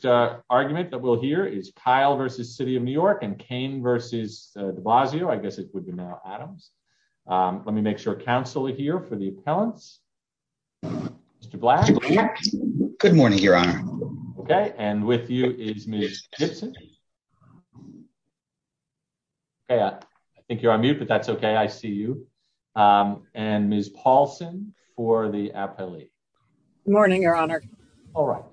The first argument that we'll hear is Keil v. The City of New York and Cain v. de Blasio, I guess it would be now Adams. Let me make sure Council are here for the appellants. Mr. Black. Good morning, Your Honor. Okay, and with you is Miss Gibson. Yeah, I think you're on mute but that's okay I see you. And Miss Paulson for the appellee. Morning, Your Honor. All right.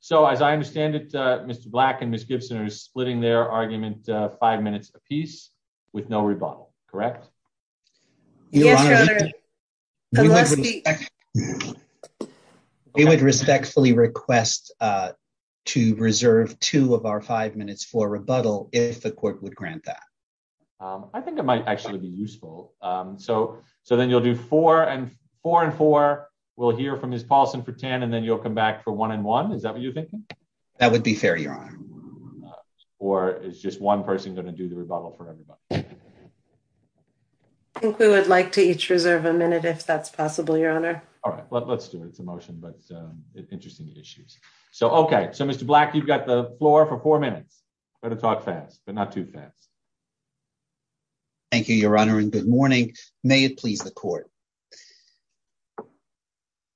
So as I understand it, Mr. Black and Miss Gibson are splitting their argument, five minutes a piece with no rebuttal, correct. Yes, Your Honor. We would respectfully request to reserve two of our five minutes for rebuttal, if the court would grant that. I think it might actually be useful. So, so then you'll do four and four and four, we'll hear from Miss Paulson for 10 and then you'll come back for one and one is that what you think. That would be fair, Your Honor. Or is just one person going to do the rebuttal for everybody. I think we would like to each reserve a minute if that's possible, Your Honor. All right, let's do it. It's a motion but interesting issues. So okay so Mr black you've got the floor for four minutes, but it's not fast, but not too fast. Thank you, Your Honor and good morning, may it please the court.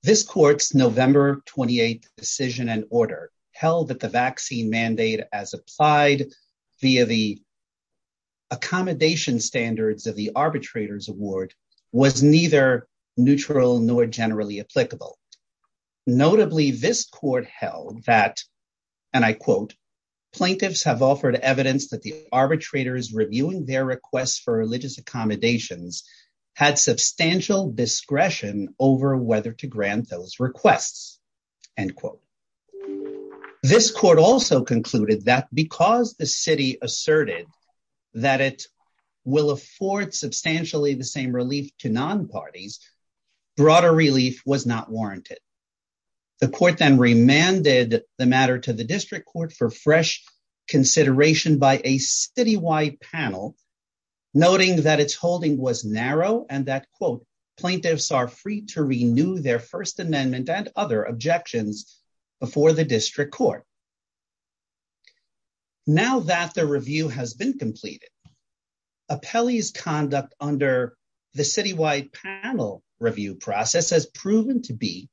This court's November 28 decision and order held that the vaccine mandate as applied via the accommodation standards of the arbitrators award was neither neutral nor generally applicable. Notably this court held that, and I quote plaintiffs have offered evidence that the arbitrators reviewing their requests for religious accommodations had substantial discretion over whether to grant those requests, and quote, this court also concluded that because the city asserted that it will afford substantially the same relief to non parties. Broader relief was not warranted. The court then remanded the matter to the district court for fresh consideration by a citywide panel, noting that it's holding was narrow and that quote plaintiffs are free to renew their First Amendment and other objections before the district court. Now that the review has been completed. Appellee's conduct under the citywide panel review process has proven to be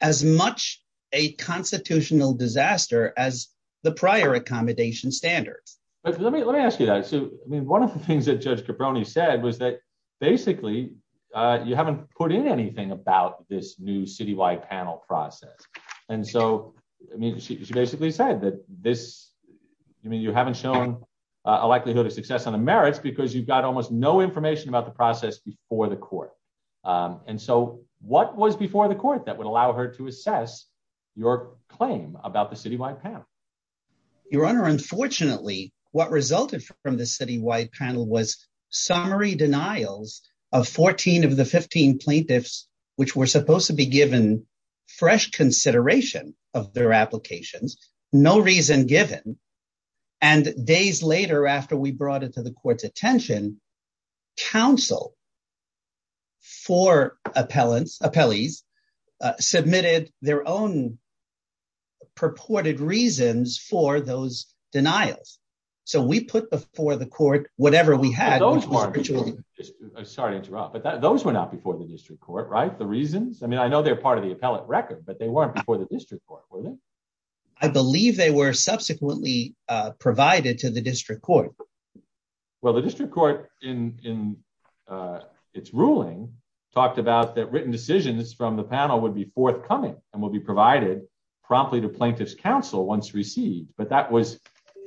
as much a constitutional disaster as the prior accommodation standards. Let me let me ask you that. So, I mean, one of the things that judge Caproni said was that, basically, you haven't put in anything about this new citywide panel process. And so, I mean, she basically said that this. I mean you haven't shown a likelihood of success on the merits because you've got almost no information about the process before the court. And so, what was before the court that would allow her to assess your claim about the citywide panel. Your Honor, unfortunately, what resulted from the citywide panel was summary denials of 14 of the 15 plaintiffs, which were supposed to be given fresh consideration of their applications, no reason given. And days later after we brought it to the court's attention, counsel for appellants, appellees submitted their own purported reasons for those denials. So we put before the court, whatever we had. Sorry to interrupt but those were not before the district court right the reasons I mean I know they're part of the appellate record but they weren't before the district court. I believe they were subsequently provided to the district court. Well the district court in its ruling, talked about that written decisions from the panel would be forthcoming, and will be provided promptly to plaintiffs counsel once received but that was,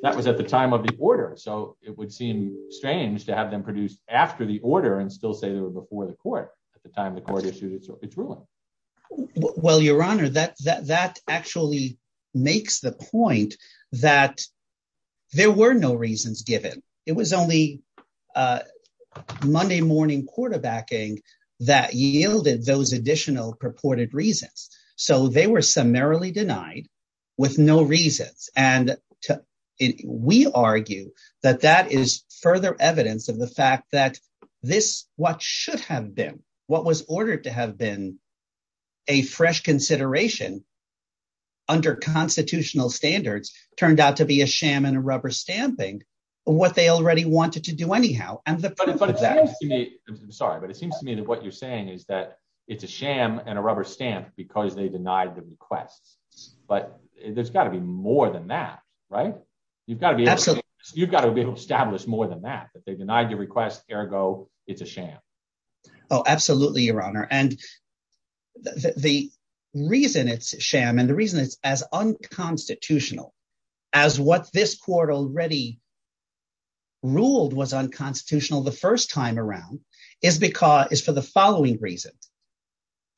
that was at the time of the order so it would seem strange to have them makes the point that there were no reasons given. It was only Monday morning quarterbacking that yielded those additional purported reasons. So they were summarily denied with no reasons, and we argue that that is further evidence of the fact that this, what should have been what was ordered to have been a fresh consideration under constitutional standards, turned out to be a sham and a rubber stamping, what they already wanted to do anyhow, and the fact that I'm sorry but it seems to me that what you're saying is that it's a sham and a rubber stamp because they denied the request. But there's got to be more than that. Right. You've got to be absolutely, you've got to be able to establish more than that but they denied your request, ergo, it's a sham. Oh, absolutely, Your Honor, and the reason it's sham and the reason it's as unconstitutional as what this court already ruled was unconstitutional the first time around is because is for the following reasons.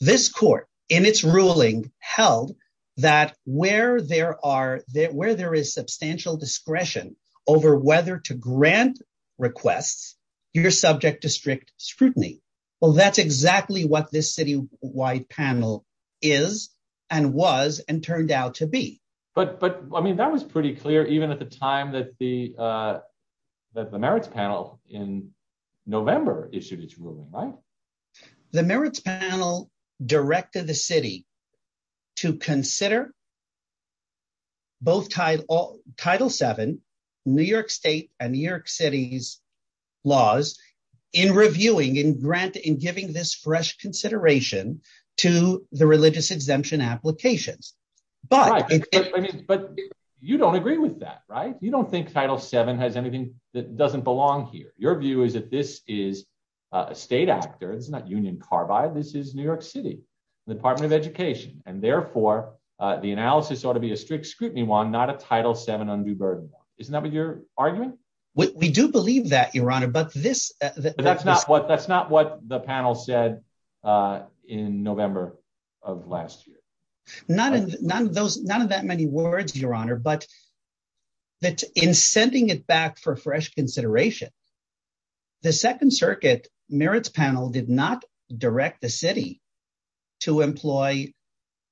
This court in its ruling held that where there is substantial discretion over whether to grant requests, you're subject to strict scrutiny. Well, that's exactly what this city wide panel is and was and turned out to be. But, I mean, that was pretty clear even at the time that the Merits panel in November issued its ruling, right? The Merits panel directed the city to consider both Title VII, New York State, and New York City's laws in reviewing and grant in giving this fresh consideration to the religious exemption applications. Right, but you don't agree with that, right? You don't think Title VII has anything that doesn't belong here. Your view is that this is a state actor, it's not Union Carbide, this is New York City, the Department of Education, and therefore, the analysis ought to be a strict scrutiny one, not a Title VII undue burden one. Isn't that what your argument? We do believe that, Your Honor, but this... But that's not what the panel said in November of last year. None of that many words, Your Honor, but in sending it back for fresh consideration, the Second Circuit Merits panel did not direct the city to employ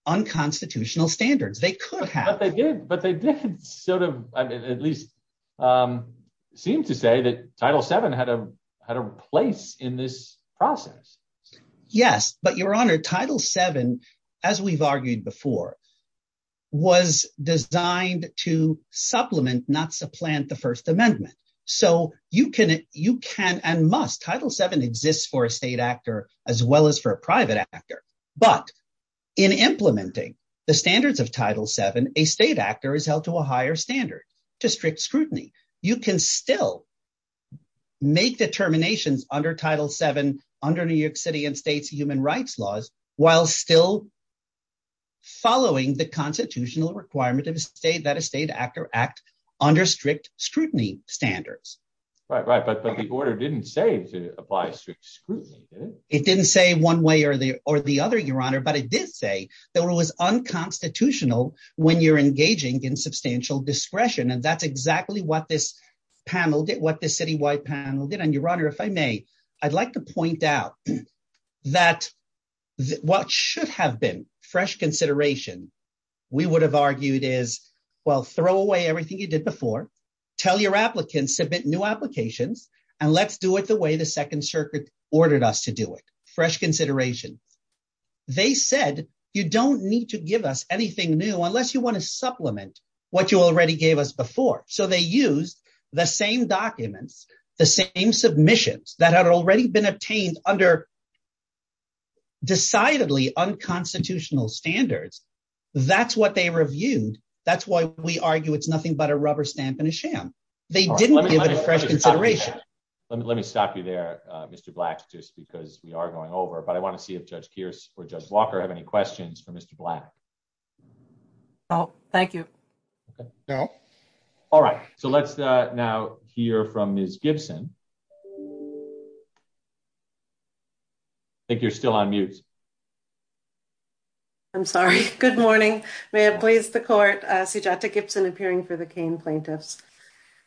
unconstitutional standards. They could have. But they did sort of at least seem to say that Title VII had a place in this process. Yes, but Your Honor, Title VII, as we've argued before, was designed to supplement, not supplant, the First Amendment. So you can and must, Title VII exists for a state actor, as well as for a private actor, but in implementing the standards of Title VII, a state actor is held to a higher standard to strict scrutiny. You can still make determinations under Title VII, under New York City and state's human rights laws, while still following the constitutional requirement that a state actor act under strict scrutiny standards. Right, right, but the order didn't say to apply strict scrutiny, did it? It didn't say one way or the other, Your Honor, but it did say that it was unconstitutional when you're engaging in substantial discretion. And that's exactly what this panel did, what the citywide panel did. Your Honor, if I may, I'd like to point out that what should have been fresh consideration, we would have argued is, well, throw away everything you did before. Tell your applicants, submit new applications, and let's do it the way the Second Circuit ordered us to do it. Fresh consideration. They said, you don't need to give us anything new unless you want to supplement what you already gave us before. So they used the same documents, the same submissions that had already been obtained under decidedly unconstitutional standards. That's what they reviewed. That's why we argue it's nothing but a rubber stamp in a sham. They didn't give it a fresh consideration. Let me stop you there, Mr. Black, just because we are going over. But I want to see if Judge Kearse or Judge Walker have any questions for Mr. Black. Oh, thank you. All right, so let's now hear from Ms. Gibson. I think you're still on mute. I'm sorry. Good morning. May it please the court. Sujata Gibson appearing for the Kane plaintiffs.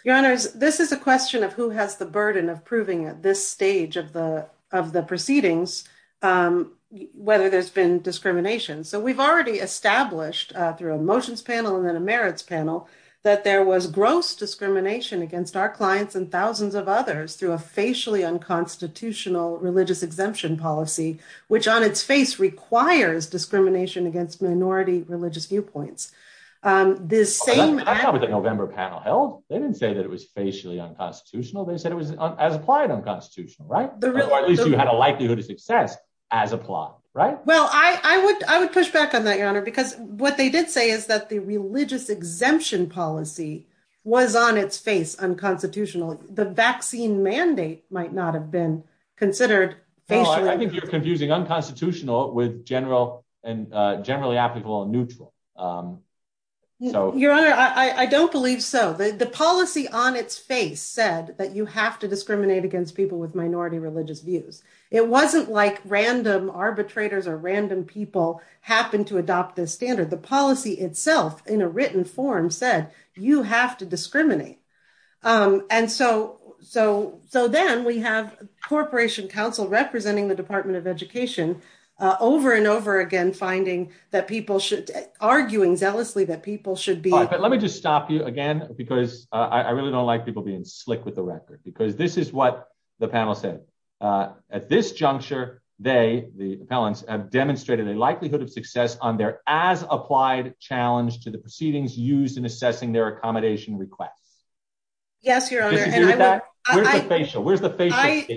Your Honor, this is a question of who has the burden of proving at this stage of the proceedings whether there's been discrimination. So we've already established through a motions panel and then a merits panel that there was gross discrimination against our clients and thousands of others through a facially unconstitutional religious exemption policy, which on its face requires discrimination against minority religious viewpoints. This same November panel held. They didn't say that it was facially unconstitutional. They said it was as applied unconstitutional. Right. Or at least you had a likelihood of success as applied. Right. Well, I would I would push back on that, Your Honor, because what they did say is that the religious exemption policy was on its face unconstitutional. The vaccine mandate might not have been considered. I think you're confusing unconstitutional with general and generally applicable and neutral. So, Your Honor, I don't believe so. The policy on its face said that you have to discriminate against people with minority religious views. It wasn't like random arbitrators or random people happen to adopt this standard. The policy itself in a written form said you have to discriminate. And so so so then we have Corporation Council representing the Department of Education over and over again, finding that people should arguing zealously that people should be. But let me just stop you again, because I really don't like people being slick with the record, because this is what the panel said at this juncture. They, the appellants, have demonstrated a likelihood of success on their as applied challenge to the proceedings used in assessing their accommodation requests. Yes, Your Honor. Where's the facial? Where's the face?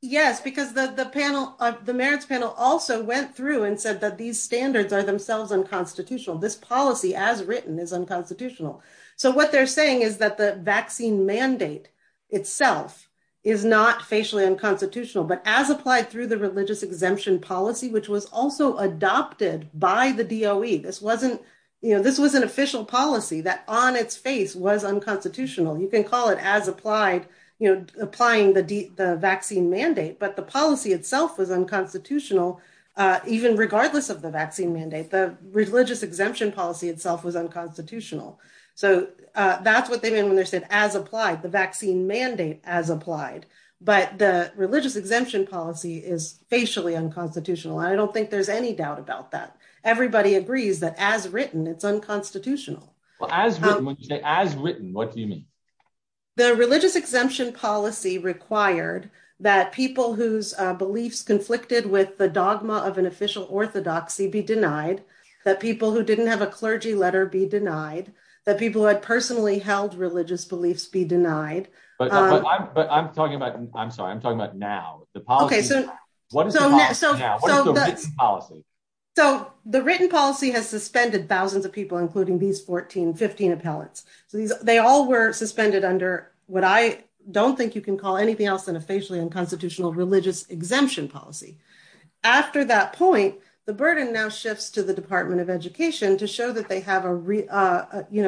Yes, because the panel of the merits panel also went through and said that these standards are themselves unconstitutional. This policy, as written, is unconstitutional. So what they're saying is that the vaccine mandate itself is not facially unconstitutional, but as applied through the religious exemption policy, which was also adopted by the D.O.E. This wasn't this was an official policy that on its face was unconstitutional. You can call it as applied, you know, applying the the vaccine mandate. But the policy itself was unconstitutional, even regardless of the vaccine mandate. The religious exemption policy itself was unconstitutional. So that's what they mean when they said as applied the vaccine mandate as applied. But the religious exemption policy is facially unconstitutional. I don't think there's any doubt about that. Everybody agrees that as written, it's unconstitutional. As written, what do you mean? The religious exemption policy required that people whose beliefs conflicted with the dogma of an official orthodoxy be denied, that people who didn't have a clergy letter be denied, that people who had personally held religious beliefs be denied. But I'm talking about I'm sorry, I'm talking about now. What is the policy now? What is the written policy? So the written policy has suspended thousands of people, including these 14, 15 appellants. So they all were suspended under what I don't think you can call anything else than a facially unconstitutional religious exemption policy. After that point, the burden now shifts to the Department of Education to show that they have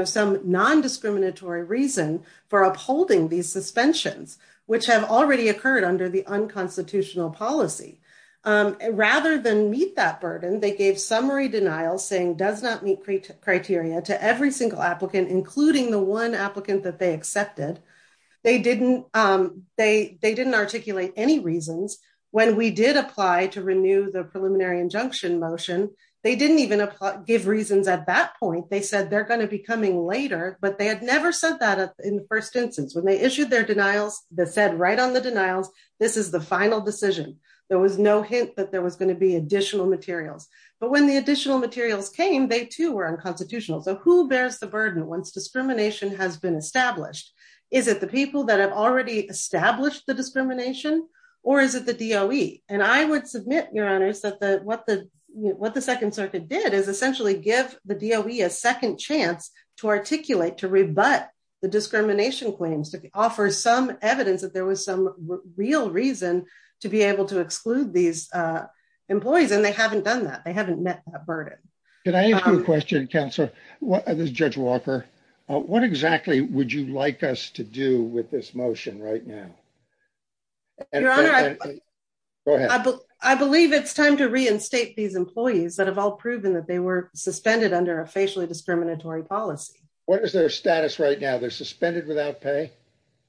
some non-discriminatory reason for upholding these suspensions, which have already occurred under the unconstitutional policy. Rather than meet that burden, they gave summary denial saying does not meet criteria to every single applicant, including the one applicant that they accepted. They didn't articulate any reasons. When we did apply to renew the preliminary injunction motion, they didn't even give reasons at that point. They said they're going to be coming later, but they had never said that in the first instance. When they issued their denials, they said right on the denials, this is the final decision. There was no hint that there was going to be additional materials. But when the additional materials came, they too were unconstitutional. So who bears the burden once discrimination has been established? Is it the people that have already established the discrimination? Or is it the DOE? And I would submit, Your Honors, that what the Second Circuit did is essentially give the DOE a second chance to articulate, to rebut the discrimination claims, to offer some evidence that there was some real reason to be able to exclude these employees. And they haven't done that. They haven't met that burden. Can I ask you a question, Counselor? This is Judge Walker. What exactly would you like us to do with this motion right now? Go ahead. I believe it's time to reinstate these employees that have all proven that they were suspended under a facially discriminatory policy. What is their status right now? They're suspended without pay?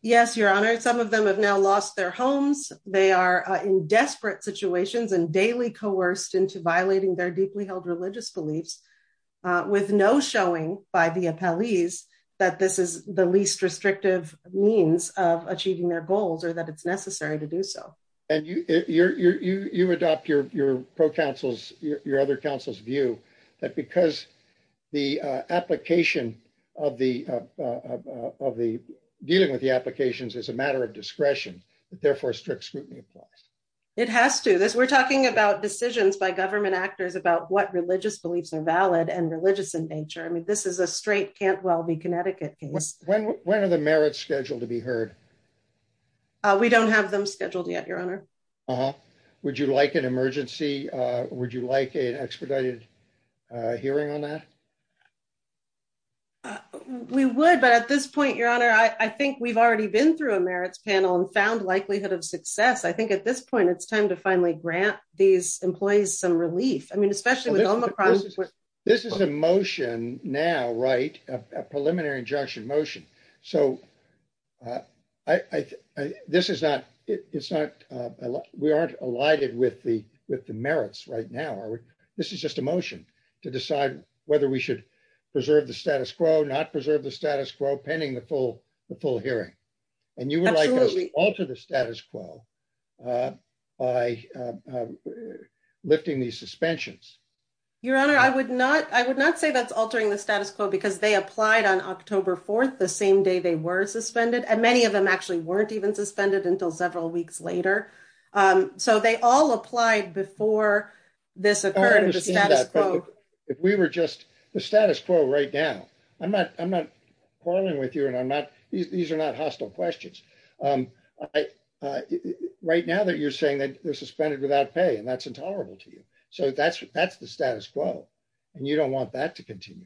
Yes, Your Honor. Some of them have now lost their homes. They are in desperate situations and daily coerced into violating their deeply held religious beliefs, with no showing by the appellees that this is the least restrictive means of achieving their goals or that it's necessary to do so. And you adopt your other counsel's view that because dealing with the applications is a matter of discretion, therefore strict scrutiny applies. It has to. We're talking about decisions by government actors about what religious beliefs are valid and religious in nature. I mean, this is a straight Cantwell v. Connecticut case. When are the merits scheduled to be heard? We don't have them scheduled yet, Your Honor. Would you like an emergency? Would you like an expedited hearing on that? We would. But at this point, Your Honor, I think we've already been through a merits panel and found likelihood of success. I think at this point, it's time to finally grant these employees some relief. I mean, especially with this is a motion now. Right. A preliminary injunction motion. So, this is not, it's not, we aren't alighted with the merits right now, are we? This is just a motion to decide whether we should preserve the status quo, not preserve the status quo pending the full hearing. And you would like to alter the status quo by lifting these suspensions. Your Honor, I would not, I would not say that's altering the status quo because they applied on October 4th, the same day they were suspended. And many of them actually weren't even suspended until several weeks later. So, they all applied before this occurred. If we were just the status quo right now, I'm not, I'm not quarreling with you and I'm not, these are not hostile questions. Right now that you're saying that they're suspended without pay and that's intolerable to you. So, that's the status quo and you don't want that to continue.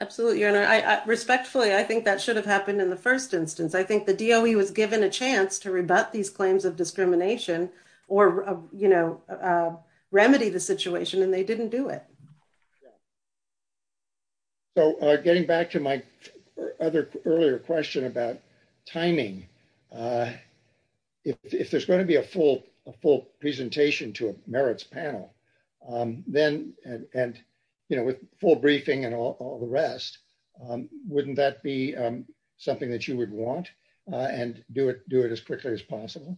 Absolutely, Your Honor. Respectfully, I think that should have happened in the first instance. I think the DOE was given a chance to rebut these claims of discrimination or, you know, remedy the situation and they didn't do it. So, getting back to my other earlier question about timing. If there's going to be a full, a full presentation to a merits panel, then, and, you know, with full briefing and all the rest, wouldn't that be something that you would want and do it, do it as quickly as possible?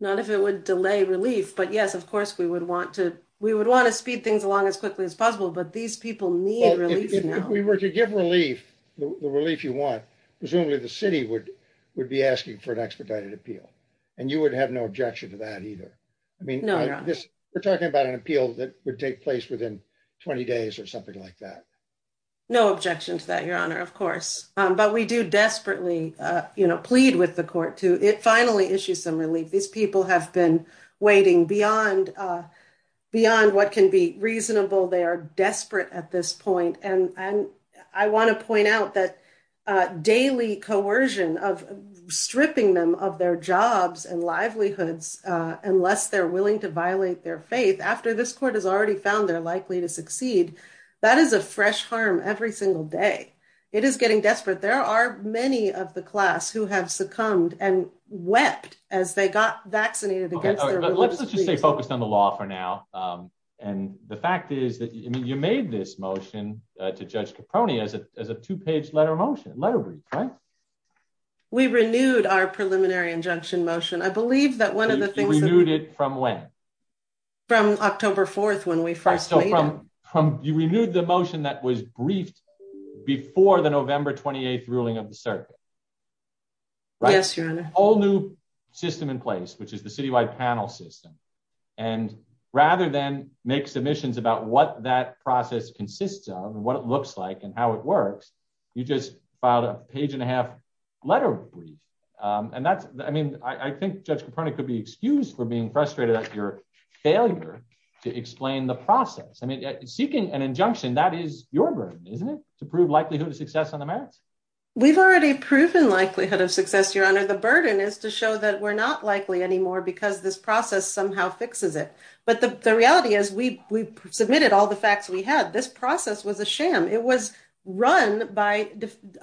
Not if it would delay relief, but yes, of course, we would want to, we would want to speed things along as quickly as possible, but these people need relief. If we were to give relief, the relief you want, presumably the city would, would be asking for an expedited appeal. And you would have no objection to that either. I mean, we're talking about an appeal that would take place within 20 days or something like that. No objection to that, Your Honor, of course. But we do desperately, you know, plead with the court to, it finally issues some relief. These people have been waiting beyond, beyond what can be reasonable. They are desperate at this point. And, and I want to point out that daily coercion of stripping them of their jobs and livelihoods, unless they're willing to violate their faith after this court has already found they're likely to succeed. That is a fresh harm every single day. It is getting desperate. There are many of the class who have succumbed and wept as they got vaccinated. Let's just stay focused on the law for now. And the fact is that you made this motion to Judge Caproni as a, as a two page letter motion, letter brief, right? We renewed our preliminary injunction motion. I believe that one of the things... You renewed it from when? From October 4th when we first made it. You renewed the motion that was briefed before the November 28th ruling of the circuit. Yes, Your Honor. We have a whole new system in place, which is the citywide panel system. And rather than make submissions about what that process consists of and what it looks like and how it works, you just filed a page and a half letter brief. And that's, I mean, I think Judge Caproni could be excused for being frustrated at your failure to explain the process. I mean, seeking an injunction that is your burden, isn't it? To prove likelihood of success on the merits. We've already proven likelihood of success, Your Honor. The burden is to show that we're not likely anymore because this process somehow fixes it. But the reality is we submitted all the facts we had. This process was a sham. It was run by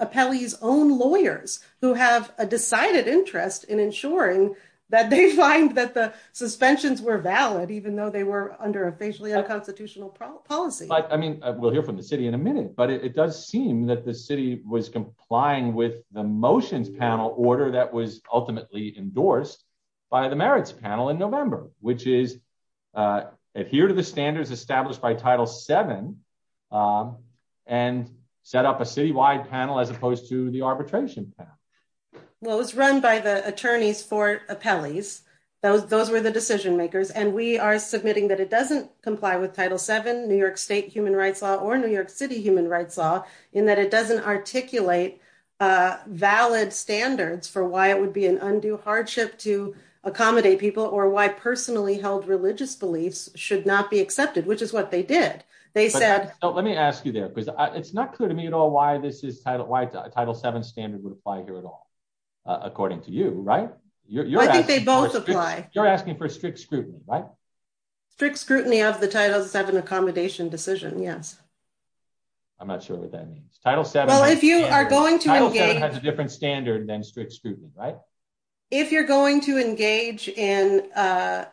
Apelli's own lawyers who have a decided interest in ensuring that they find that the suspensions were valid, even though they were under a facially unconstitutional policy. I mean, we'll hear from the city in a minute, but it does seem that the city was complying with the motions panel order that was ultimately endorsed by the merits panel in November, which is adhere to the standards established by Title VII and set up a citywide panel as opposed to the arbitration panel. Well, it was run by the attorneys for Apelli's. Those were the decision makers. And we are submitting that it doesn't comply with Title VII, New York State human rights law or New York City human rights law in that it doesn't articulate valid standards for why it would be an undue hardship to accommodate people or why personally held religious beliefs should not be accepted, which is what they did. Let me ask you there because it's not clear to me at all why this is Title VII standard would apply here at all, according to you, right? I think they both apply. You're asking for strict scrutiny, right? Strict scrutiny of the Title VII accommodation decision, yes. I'm not sure what that means. Title VII has a different standard than strict scrutiny, right? If you're going to engage in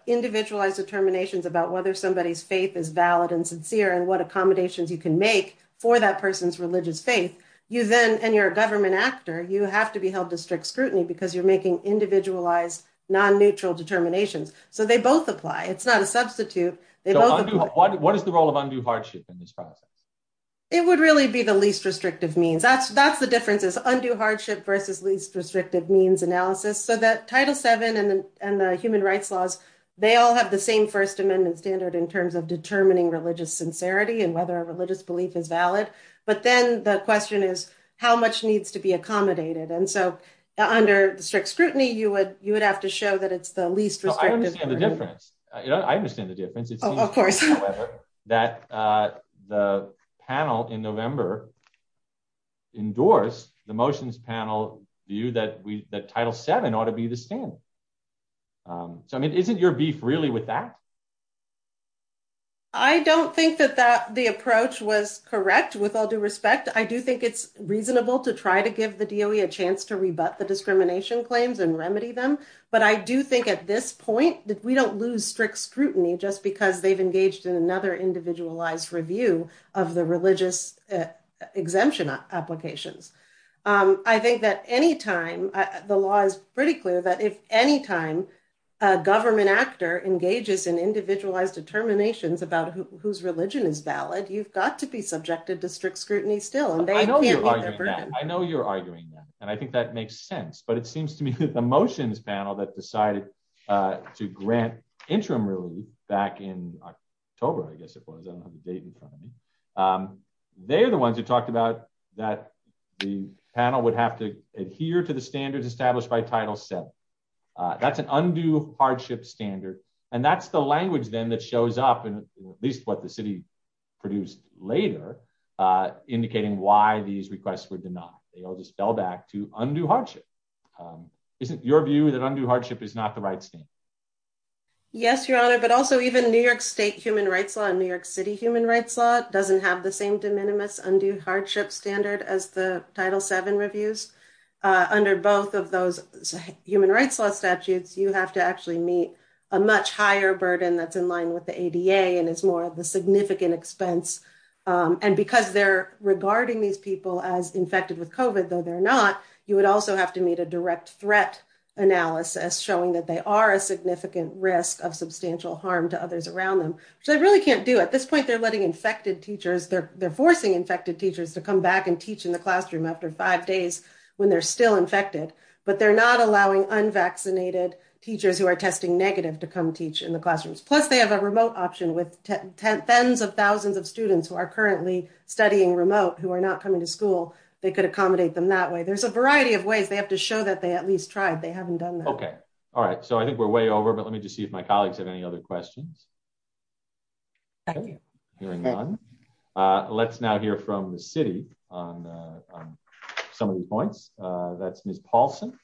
individualized determinations about whether somebody's faith is valid and sincere and what accommodations you can make for that person's religious faith, and you're a government actor, you have to be held to strict scrutiny because you're making individualized, non-neutral determinations. So they both apply. It's not a substitute. What is the role of undue hardship in this process? It would really be the least restrictive means. That's the difference is undue hardship versus least restrictive means analysis. So that Title VII and the human rights laws, they all have the same First Amendment standard in terms of determining religious sincerity and whether a religious belief is valid. But then the question is how much needs to be accommodated. And so under strict scrutiny, you would have to show that it's the least restrictive. I understand the difference. It seems, however, that the panel in November endorsed the motions panel view that Title VII ought to be the standard. So, I mean, isn't your beef really with that? I don't think that the approach was correct, with all due respect. I do think it's reasonable to try to give the DOE a chance to rebut the discrimination claims and remedy them. But I do think at this point that we don't lose strict scrutiny just because they've engaged in another individualized review of the religious exemption applications. I think that any time the law is pretty clear that if any time a government actor engages in individualized determinations about whose religion is valid, you've got to be subjected to strict scrutiny still. I know you're arguing that. And I think that makes sense. But it seems to me that the motions panel that decided to grant interim relief back in October, I guess it was, I don't have the date in front of me. They're the ones who talked about that the panel would have to adhere to the standards established by Title VII. That's an undue hardship standard. And that's the language then that shows up, at least what the city produced later, indicating why these requests were denied. They all just fell back to undue hardship. Isn't your view that undue hardship is not the right standard? Yes, Your Honor, but also even New York State human rights law and New York City human rights law doesn't have the same de minimis undue hardship standard as the Title VII reviews. Under both of those human rights law statutes, you have to actually meet a much higher burden that's in line with the ADA and is more of a significant expense. And because they're regarding these people as infected with COVID, though they're not, you would also have to meet a direct threat analysis showing that they are a significant risk of substantial harm to others around them. So they really can't do it. At this point, they're letting infected teachers, they're forcing infected teachers to come back and teach in the classroom after five days when they're still infected. But they're not allowing unvaccinated teachers who are testing negative to come teach in the classrooms. Plus, they have a remote option with tens of thousands of students who are currently studying remote who are not coming to school. They could accommodate them that way. There's a variety of ways they have to show that they at least tried. They haven't done that. Okay. All right. So I think we're way over. But let me just see if my colleagues have any other questions. Hearing none, let's now hear from the city on some of the points. That's Ms. Paulson.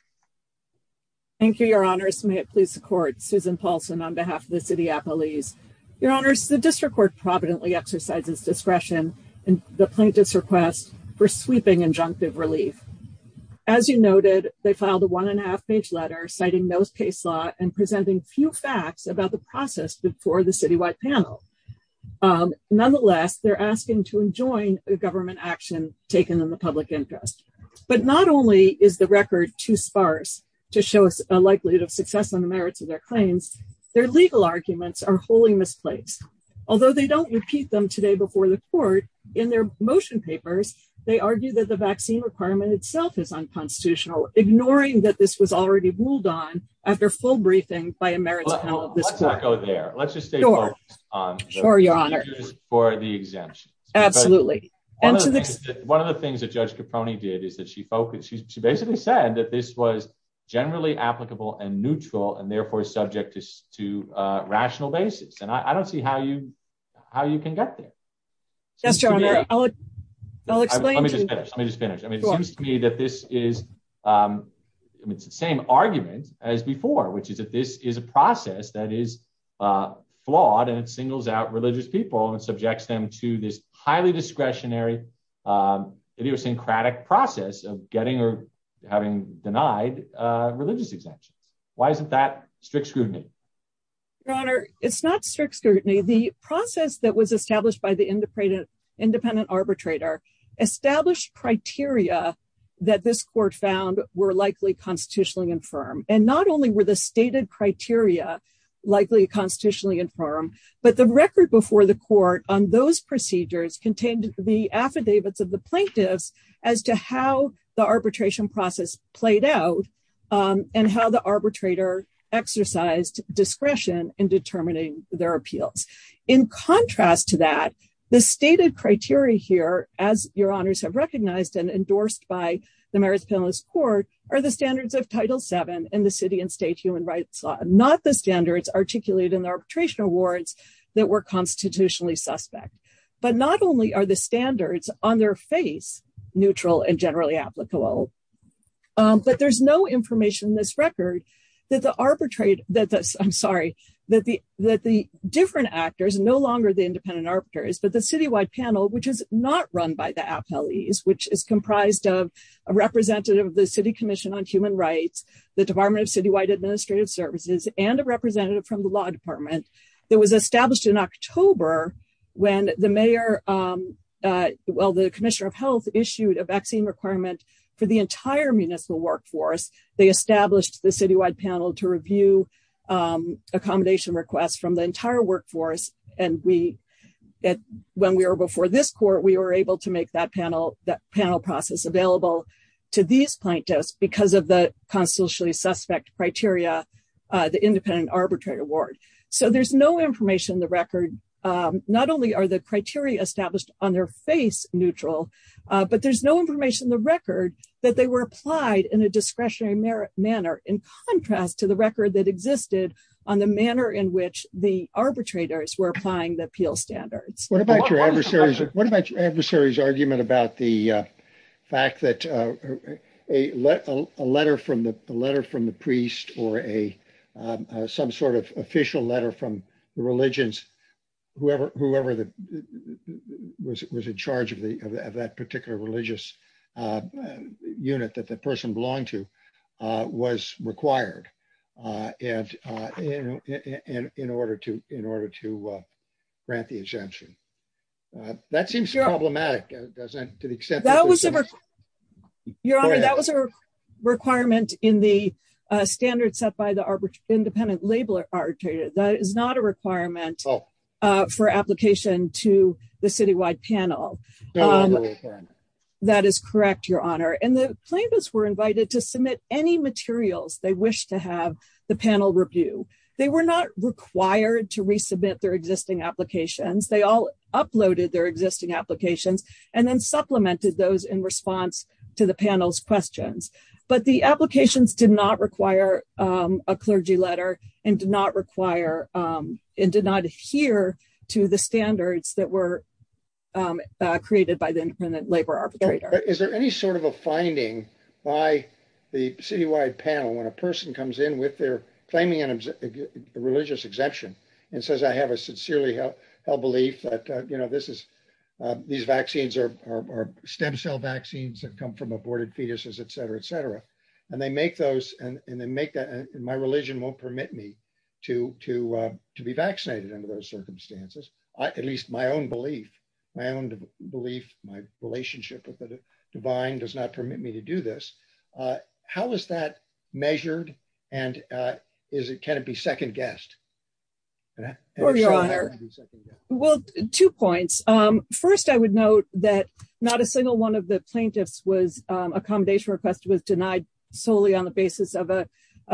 Thank you, Your Honor. First, may it please the court. Susan Paulson on behalf of the City of Appalachia. Your Honor, the District Court providently exercises discretion in the plaintiff's request for sweeping injunctive relief. As you noted, they filed a one and a half page letter citing those case law and presenting few facts about the process before the citywide panel. Nonetheless, they're asking to enjoin the government action taken in the public interest. But not only is the record too sparse to show a likelihood of success on the merits of their claims, their legal arguments are wholly misplaced. Although they don't repeat them today before the court, in their motion papers, they argue that the vaccine requirement itself is unconstitutional, ignoring that this was already ruled on after full briefing by a merits panel of this court. Let's not go there. Let's just stay focused on the issues for the exemptions. Absolutely. One of the things that Judge Caproni did is that she focused. She basically said that this was generally applicable and neutral and therefore subject to rational basis. And I don't see how you can get there. Yes, Your Honor. I'll explain. Let me just finish. I mean, it seems to me that this is the same argument as before, which is that this is a process that is flawed and singles out religious people and subjects them to this highly discretionary idiosyncratic process of getting or having denied religious exemptions. Why isn't that strict scrutiny? Your Honor, it's not strict scrutiny. The process that was established by the independent arbitrator established criteria that this court found were likely constitutionally infirm. And not only were the stated criteria likely constitutionally infirm, but the record before the court on those procedures contained the affidavits of the plaintiffs as to how the arbitration process played out and how the arbitrator exercised discretion in determining their appeals. In contrast to that, the stated criteria here, as Your Honors have recognized and endorsed by the Marist Penalist Court, are the standards of Title VII in the city and state human rights law, not the standards articulated in the arbitration awards that were constitutionally suspect. But not only are the standards on their face neutral and generally applicable. But there's no information in this record that the different actors, no longer the independent arbitrators, but the citywide panel, which is not run by the appellees, which is comprised of a representative of the City Commission on Human Rights, the Department of the entire municipal workforce, they established the citywide panel to review accommodation requests from the entire workforce. And when we were before this court, we were able to make that panel process available to these plaintiffs because of the constitutionally suspect criteria, the independent arbitrate award. So there's no information in the record. Not only are the criteria established on their face neutral, but there's no information in the record that they were applied in a discretionary manner in contrast to the record that existed on the manner in which the arbitrators were applying the appeal standards. What about your adversary's argument about the fact that a letter from the priest or some sort of official letter from the religions, whoever was in charge of that particular religious unit that the person belonged to was required in order to grant the exemption? That seems problematic. Your Honor, that was a requirement in the standard set by the independent label arbitrator. That is not a requirement for application to the citywide panel. That is correct, Your Honor. And the plaintiffs were invited to submit any materials they wish to have the panel review. They were not required to resubmit their existing applications. They all uploaded their existing applications and then supplemented those in response to the panel's questions. But the applications did not require a clergy letter and did not adhere to the standards that were created by the independent labor arbitrator. Is there any sort of a finding by the citywide panel when a person comes in claiming a religious exemption and says I have a sincerely held belief that these vaccines are stem cell vaccines that come from aborted fetuses, et cetera, et cetera. My religion won't permit me to be vaccinated under those circumstances. At least my own belief, my own belief, my relationship with the divine does not permit me to do this. How is that measured and can it be second guessed? Well, two points. First, I would note that not a single one of the plaintiffs was accommodation request was denied solely on the basis of a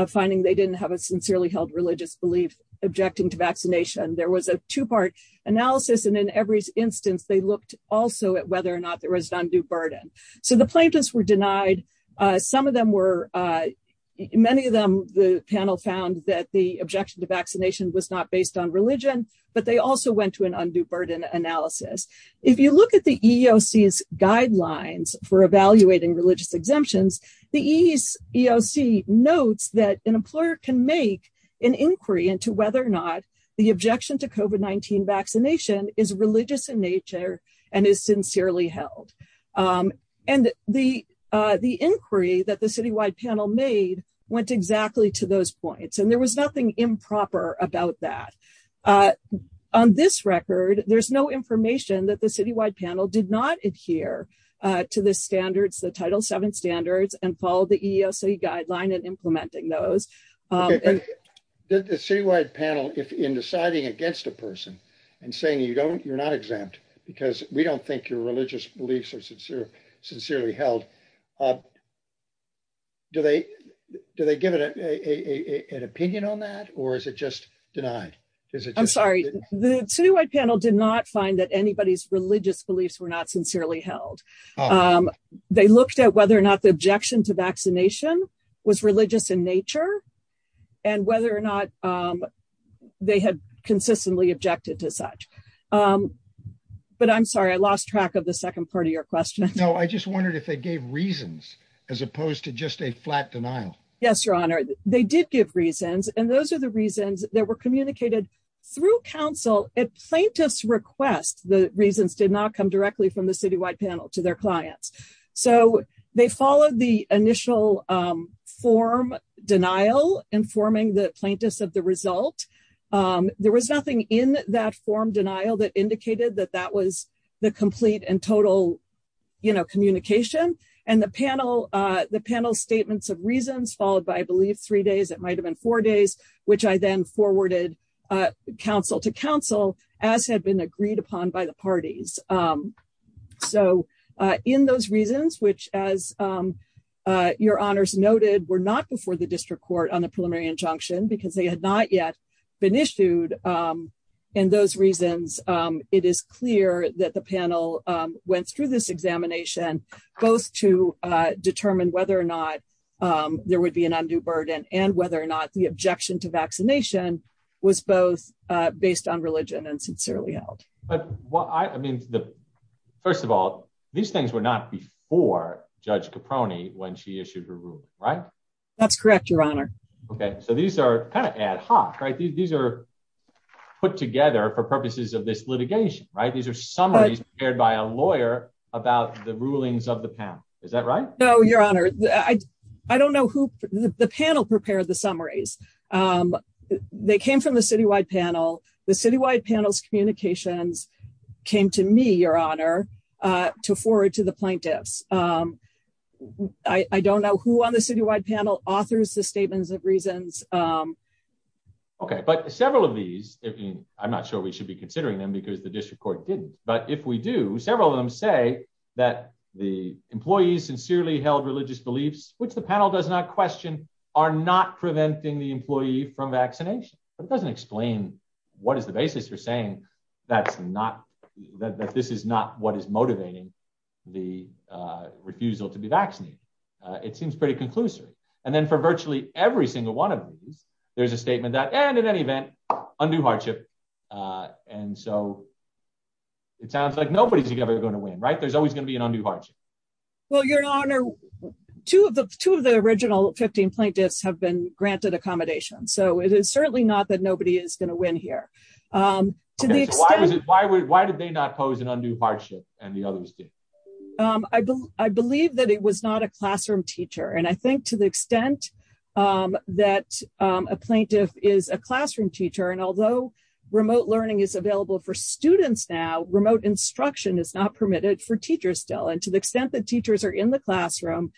finding they didn't have a sincerely held religious belief objecting to vaccination. There was a two part analysis and in every instance they looked also at whether or not there was an undue burden. So the plaintiffs were denied. Some of them were, many of them, the panel found that the objection to vaccination was not based on religion, but they also went to an undue burden analysis. If you look at the EEOC's guidelines for evaluating religious exemptions, the EEOC notes that an employer can make an inquiry into whether or not the objection to COVID-19 vaccination is religious in nature and is sincerely held. And the inquiry that the citywide panel made went exactly to those points and there was nothing improper about that. On this record, there's no information that the citywide panel did not adhere to the standards, the title seven standards and follow the EEOC guideline and implementing those. Did the citywide panel, if in deciding against a person and saying you don't, you're not exempt, because we don't think your religious beliefs are sincere, sincerely held, do they, do they give it an opinion on that or is it just denied? I'm sorry, the citywide panel did not find that anybody's religious beliefs were not sincerely held. They looked at whether or not the objection to vaccination was religious in nature, and whether or not they had consistently objected to such. But I'm sorry, I lost track of the second part of your question. No, I just wondered if they gave reasons, as opposed to just a flat denial. Yes, Your Honor, they did give reasons and those are the reasons that were communicated through counsel at plaintiff's request. The reasons did not come directly from the citywide panel to their clients. So, they followed the initial form denial informing the plaintiffs of the result. There was nothing in that form denial that indicated that that was the complete and total, you know, communication, and the panel, the panel statements of reasons followed by I believe three days, it might have been four days, which I then forwarded counsel to counsel, as had been agreed upon by the parties. So, in those reasons, which, as your honors noted were not before the district court on the preliminary injunction because they had not yet been issued. And those reasons. It is clear that the panel went through this examination, both to determine whether or not there would be an undue burden and whether or not the objection to vaccination was both based on religion and sincerely out. But what I mean, the. First of all, these things were not before Judge Caproni when she issued her room, right. That's correct, Your Honor. Okay, so these are kind of ad hoc right these are put together for purposes of this litigation, right, these are summaries, paired by a lawyer, about the rulings of the panel. Is that right, though, Your Honor, I, I don't know who the panel prepared the summaries. They came from the citywide panel, the citywide panels communications came to me, Your Honor, to forward to the plaintiffs. I don't know who on the citywide panel authors the statements of reasons. Okay, but several of these. I'm not sure we should be considering them because the district court didn't, but if we do several of them say that the employees sincerely held religious beliefs, which the panel does not question are not preventing the employee from vaccination, but it doesn't explain what is the basis for saying that's not that this is not what is motivating the refusal to be vaccinated. It seems pretty conclusive. And then for virtually every single one of these, there's a statement that and in any event, undue hardship. And so it sounds like nobody's ever going to win right there's always going to be an undue hardship. Well, Your Honor, two of the two of the original 15 plaintiffs have been granted accommodation so it is certainly not that nobody is going to win here. Why did they not pose an undue hardship, and the others did. I believe that it was not a classroom teacher and I think to the extent that a plaintiff is a classroom teacher and although remote learning is available for students now remote instruction is not permitted for teachers still and to the extent that teachers are in the classroom.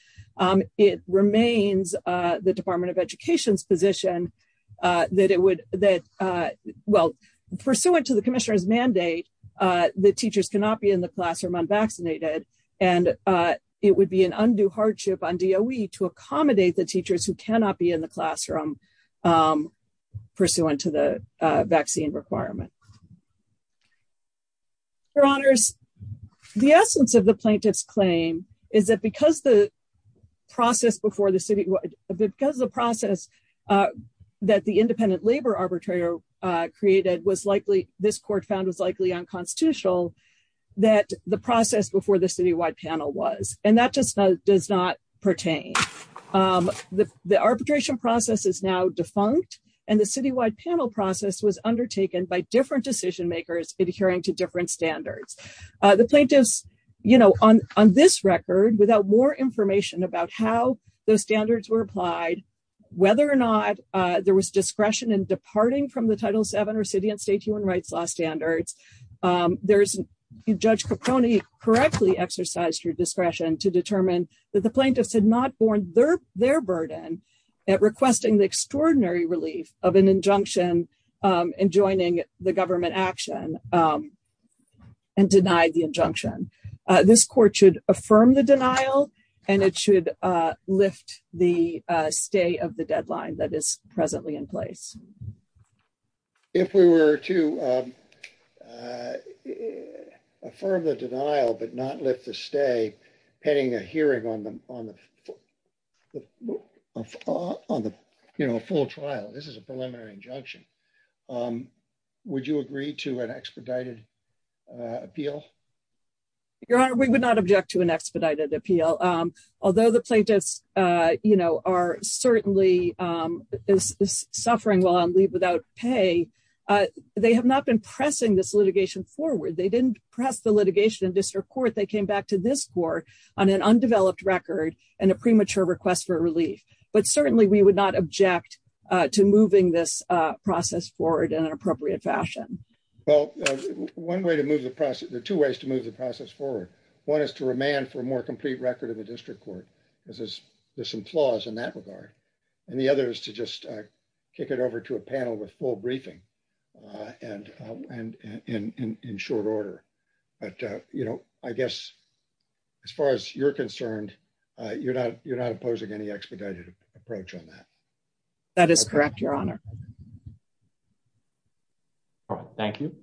It remains the Department of Education's position that it would that well, pursuant to the Commissioner's mandate that teachers cannot be in the classroom unvaccinated, and it would be an undue hardship on do we to accommodate the teachers who cannot be in the classroom. Pursuant to the vaccine requirement. Your Honors. The essence of the plaintiffs claim is that because the process before the city, because the process that the independent labor arbitrator created was likely this court found was likely unconstitutional, that the process before the city wide panel was, and that just does not pertain. The arbitration process is now defunct and the city wide panel process was undertaken by different decision makers, adhering to different standards, the plaintiffs, you know, on, on this record without more information about how those standards were applied, whether or not there was discretion and departing from the title seven or city and state human rights law standards. There's a judge Caponi correctly exercised your discretion to determine that the plaintiffs had not borne their, their burden at requesting the extraordinary relief of an injunction and joining the government action and denied the injunction. This court should affirm the denial, and it should lift the stay of the deadline that is presently in place. If we were to affirm the denial but not lift the stay pending a hearing on them on the, on the, you know, full trial, this is a preliminary injunction. Would you agree to an expedited appeal. Your Honor, we would not object to an expedited appeal. Although the plaintiffs, you know, are certainly suffering while on leave without pay. They have not been pressing this litigation forward they didn't press the litigation in district court they came back to this court on an undeveloped record and a premature request for relief, but certainly we would not object to moving this process forward in an appropriate fashion. Well, one way to move the process there are two ways to move the process forward. One is to remain for more complete record of the district court is this, this implause in that regard. And the other is to just kick it over to a panel with full briefing. And, and in short order, but, you know, I guess, as far as you're concerned, you're not, you're not opposing any expedited approach on that. That is correct, Your Honor. Thank you.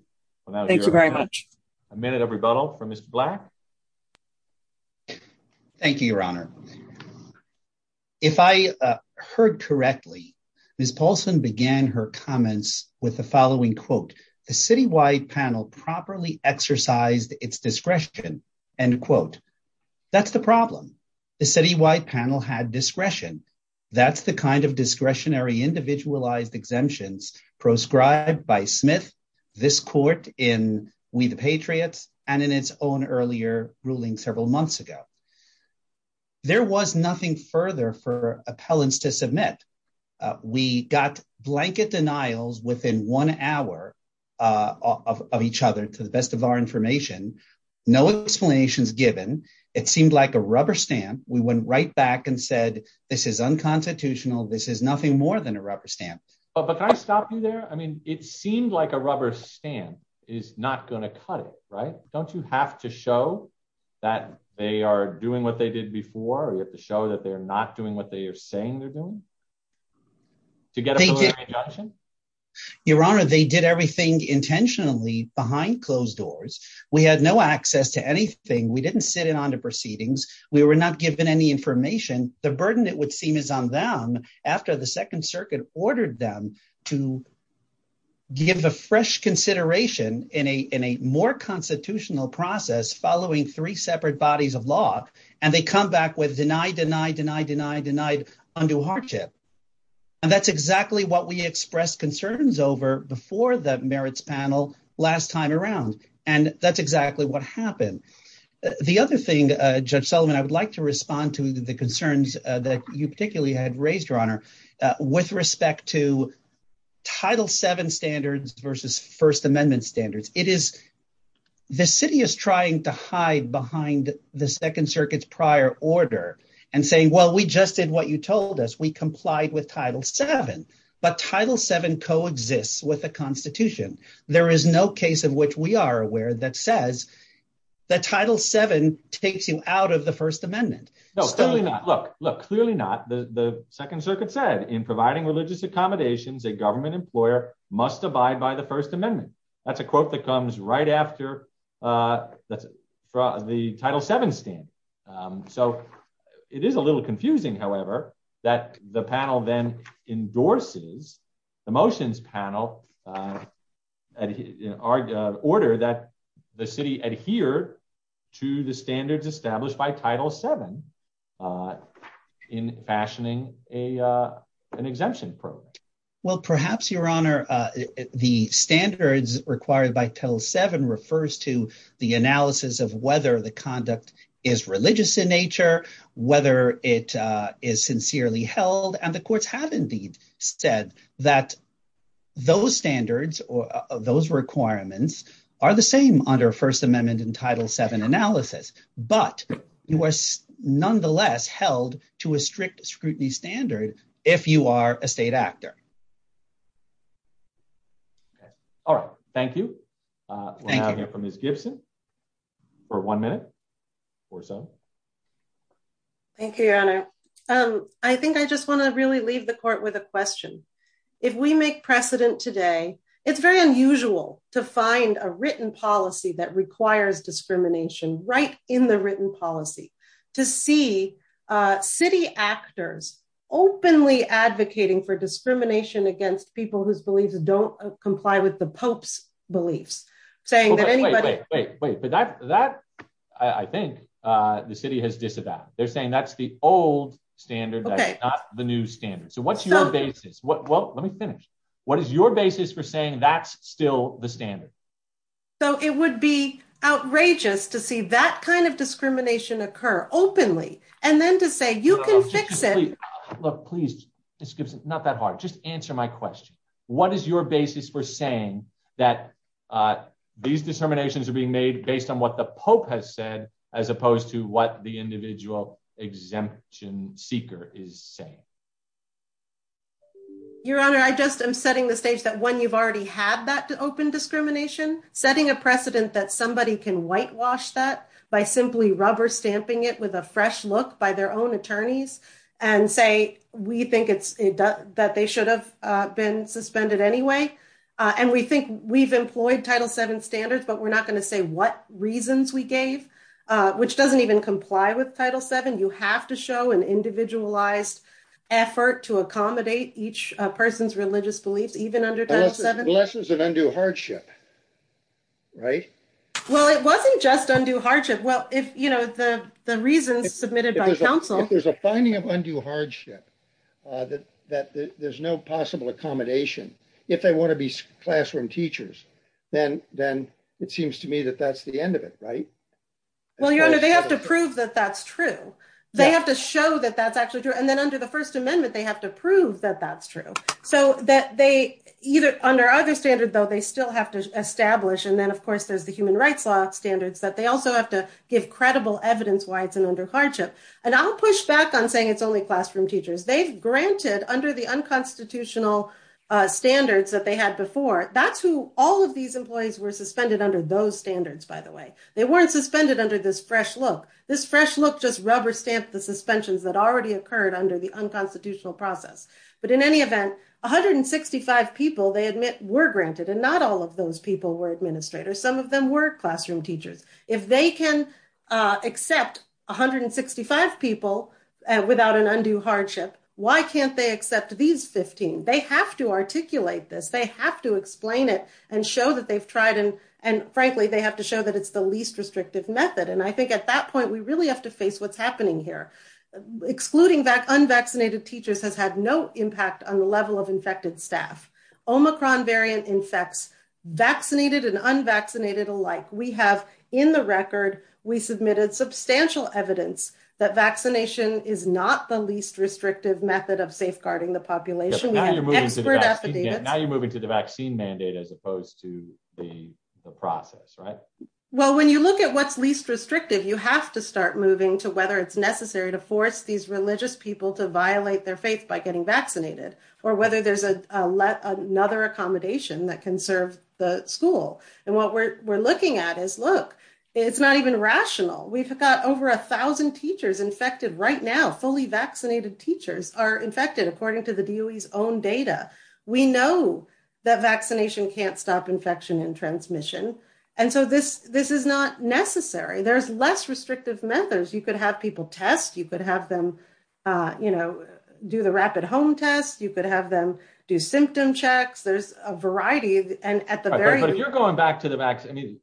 Thank you very much. A minute of rebuttal from his black. Thank you, Your Honor. If I heard correctly, Miss Paulson began her comments with the following quote, the city wide panel properly exercised its discretion, and quote. That's the problem. The city wide panel had discretion. That's the kind of discretionary individualized exemptions proscribed by Smith. This court in We the Patriots, and in its own earlier ruling several months ago. There was nothing further for appellants to submit. We got blanket denials within one hour of each other to the best of our information. No explanations given. It seemed like a rubber stamp, we went right back and said, this is unconstitutional. This is nothing more than a rubber stamp. But can I stop you there, I mean, it seemed like a rubber stamp is not going to cut it right, don't you have to show that they are doing what they did before you have to show that they're not doing what they are saying they're doing to get. Your Honor, they did everything intentionally behind closed doors. We had no access to anything we didn't sit in on the proceedings, we were not given any information, the burden that would seem is on them. Ordered them to give a fresh consideration in a in a more constitutional process following three separate bodies of law, and they come back with denied denied denied denied denied undue hardship. And that's exactly what we expressed concerns over before the merits panel last time around. And that's exactly what happened. The other thing, Judge Solomon, I would like to respond to the concerns that you particularly had raised your honor with respect to title seven standards versus First Amendment standards, it is. The city is trying to hide behind the Second Circuit's prior order and saying, well, we just did what you told us we complied with title seven, but title seven coexist with the Constitution, there is no case of which we are aware that says that title seven takes you out of the First Amendment. No, look, look, clearly not the Second Circuit said in providing religious accommodations a government employer must abide by the First Amendment. That's a quote that comes right after. That's the title seven stand. So, it is a little confusing, however, that the panel then endorses the motions panel. Our order that the city adhere to the standards established by title seven in fashioning a an exemption program. Well, perhaps your honor, the standards required by till seven refers to the analysis of whether the conduct is religious in nature, whether it is sincerely held and the courts have indeed said that those standards or those requirements are the same under First Amendment and title seven analysis, but you are nonetheless held to a strict scrutiny standard. If you are a state actor. All right, thank you. Thank you from his Gibson for one minute or so. Thank you. Um, I think I just want to really leave the court with a question. If we make precedent today, it's very unusual to find a written policy that requires discrimination right in the written policy to see city actors openly advocating for discrimination against people whose beliefs don't comply with the Pope's beliefs, saying that anybody. Wait, wait, wait, but that that I think the city has disavowed, they're saying that's the old standard. Okay, the new standard so what's your basis what well let me finish. What is your basis for saying that's still the standard, though, it would be outrageous to see that kind of discrimination occur openly, and then to say you can fix it. Look, please, it's not that hard just answer my question. What is your basis for saying that these discriminations are being made based on what the Pope has said, as opposed to what the individual exemption seeker is saying, Your Honor, I just am setting the stage that when you've already had that open discrimination, setting a precedent that somebody can whitewash that by simply rubber stamping it with a fresh look by their own attorneys and say, we think it's that they should have been accommodate each person's religious beliefs, even under lessons and undue hardship. Right. Well, it wasn't just undue hardship. Well, if you know the reasons submitted by counsel, there's a finding of undue hardship, that, that there's no possible accommodation. If they want to be classroom teachers, then, then it seems to me that that's the end of it right. Well, Your Honor, they have to prove that that's true. They have to show that that's actually true. And then under the First Amendment, they have to prove that that's true. So that they either under other standard, though, they still have to establish and then of course, there's the human rights law standards that they also have to give credible evidence why it's an undue hardship. And I'll push back on saying it's only classroom teachers. They've granted under the unconstitutional standards that they had before. That's who all of these employees were suspended under those standards, by the way, they weren't suspended under this fresh look, this fresh look just rubber stamp the suspensions that already occurred under the unconstitutional process. But in any event, 165 people they admit were granted and not all of those people were administrators. Some of them were classroom teachers. If they can accept 165 people without an undue hardship, why can't they accept these 15? They have to articulate this. They have to explain it and show that they've tried and, and frankly, they have to show that it's the least restrictive method. And I think at that point, we really have to face what's happening here. Excluding that unvaccinated teachers has had no impact on the level of infected staff. Omicron variant infects vaccinated and unvaccinated alike. We have in the record, we submitted substantial evidence that vaccination is not the least restrictive method of safeguarding the population. Now, you're moving to the vaccine mandate as opposed to the process, right? Well, when you look at what's least restrictive, you have to start moving to whether it's necessary to force these religious people to violate their faith by getting vaccinated, or whether there's another accommodation that can serve the school. And what we're looking at is, look, it's not even rational. We've got over a thousand teachers infected right now. Fully vaccinated teachers are infected according to the DOE's own data. We know that vaccination can't stop infection and transmission. And so this is not necessary. There's less restrictive methods. You could have people test. You could have them do the rapid home test. You could have them do symptom checks. There's a variety. But if you're going back to the vaccine,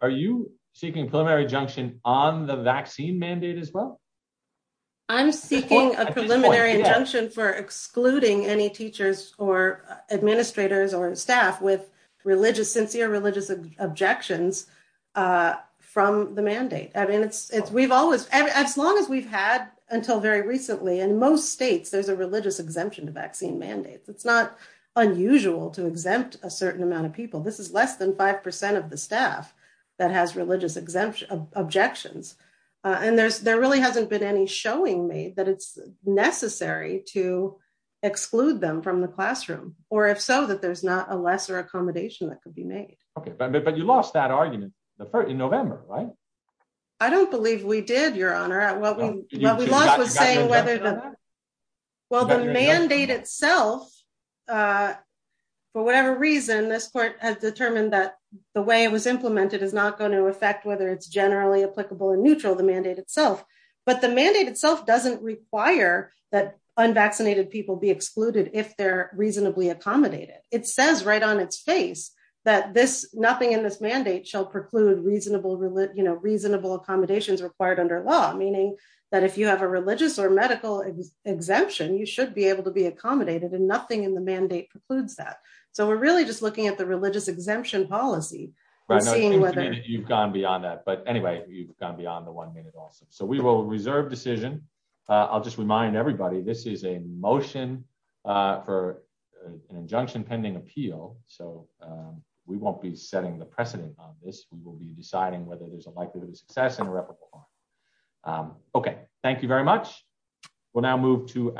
are you seeking a preliminary injunction on the vaccine mandate as well? I'm seeking a preliminary injunction for excluding any teachers or administrators or staff with religious, sincere religious objections from the mandate. As long as we've had until very recently, in most states, there's a religious exemption to vaccine mandates. It's not unusual to exempt a certain amount of people. This is less than 5% of the staff that has religious objections. And there really hasn't been any showing made that it's necessary to exclude them from the classroom, or if so, that there's not a lesser accommodation that could be made. But you lost that argument in November, right? I don't believe we did, Your Honor. What we lost was saying whether the mandate itself, for whatever reason, this court has determined that the way it was implemented is not going to affect whether it's generally applicable or neutral, the mandate itself. But the mandate itself doesn't require that unvaccinated people be excluded if they're reasonably accommodated. It says right on its face that nothing in this mandate shall preclude reasonable accommodations required under law, meaning that if you have a religious or medical exemption, you should be able to be accommodated, and nothing in the mandate precludes that. So we're really just looking at the religious exemption policy. You've gone beyond that. But anyway, you've gone beyond the one-minute also. So we will reserve decision. I'll just remind everybody, this is a motion for an injunction pending appeal, so we won't be setting the precedent on this. We will be deciding whether there's a likelihood of success and a replacement. Okay, thank you very much. We'll now move to our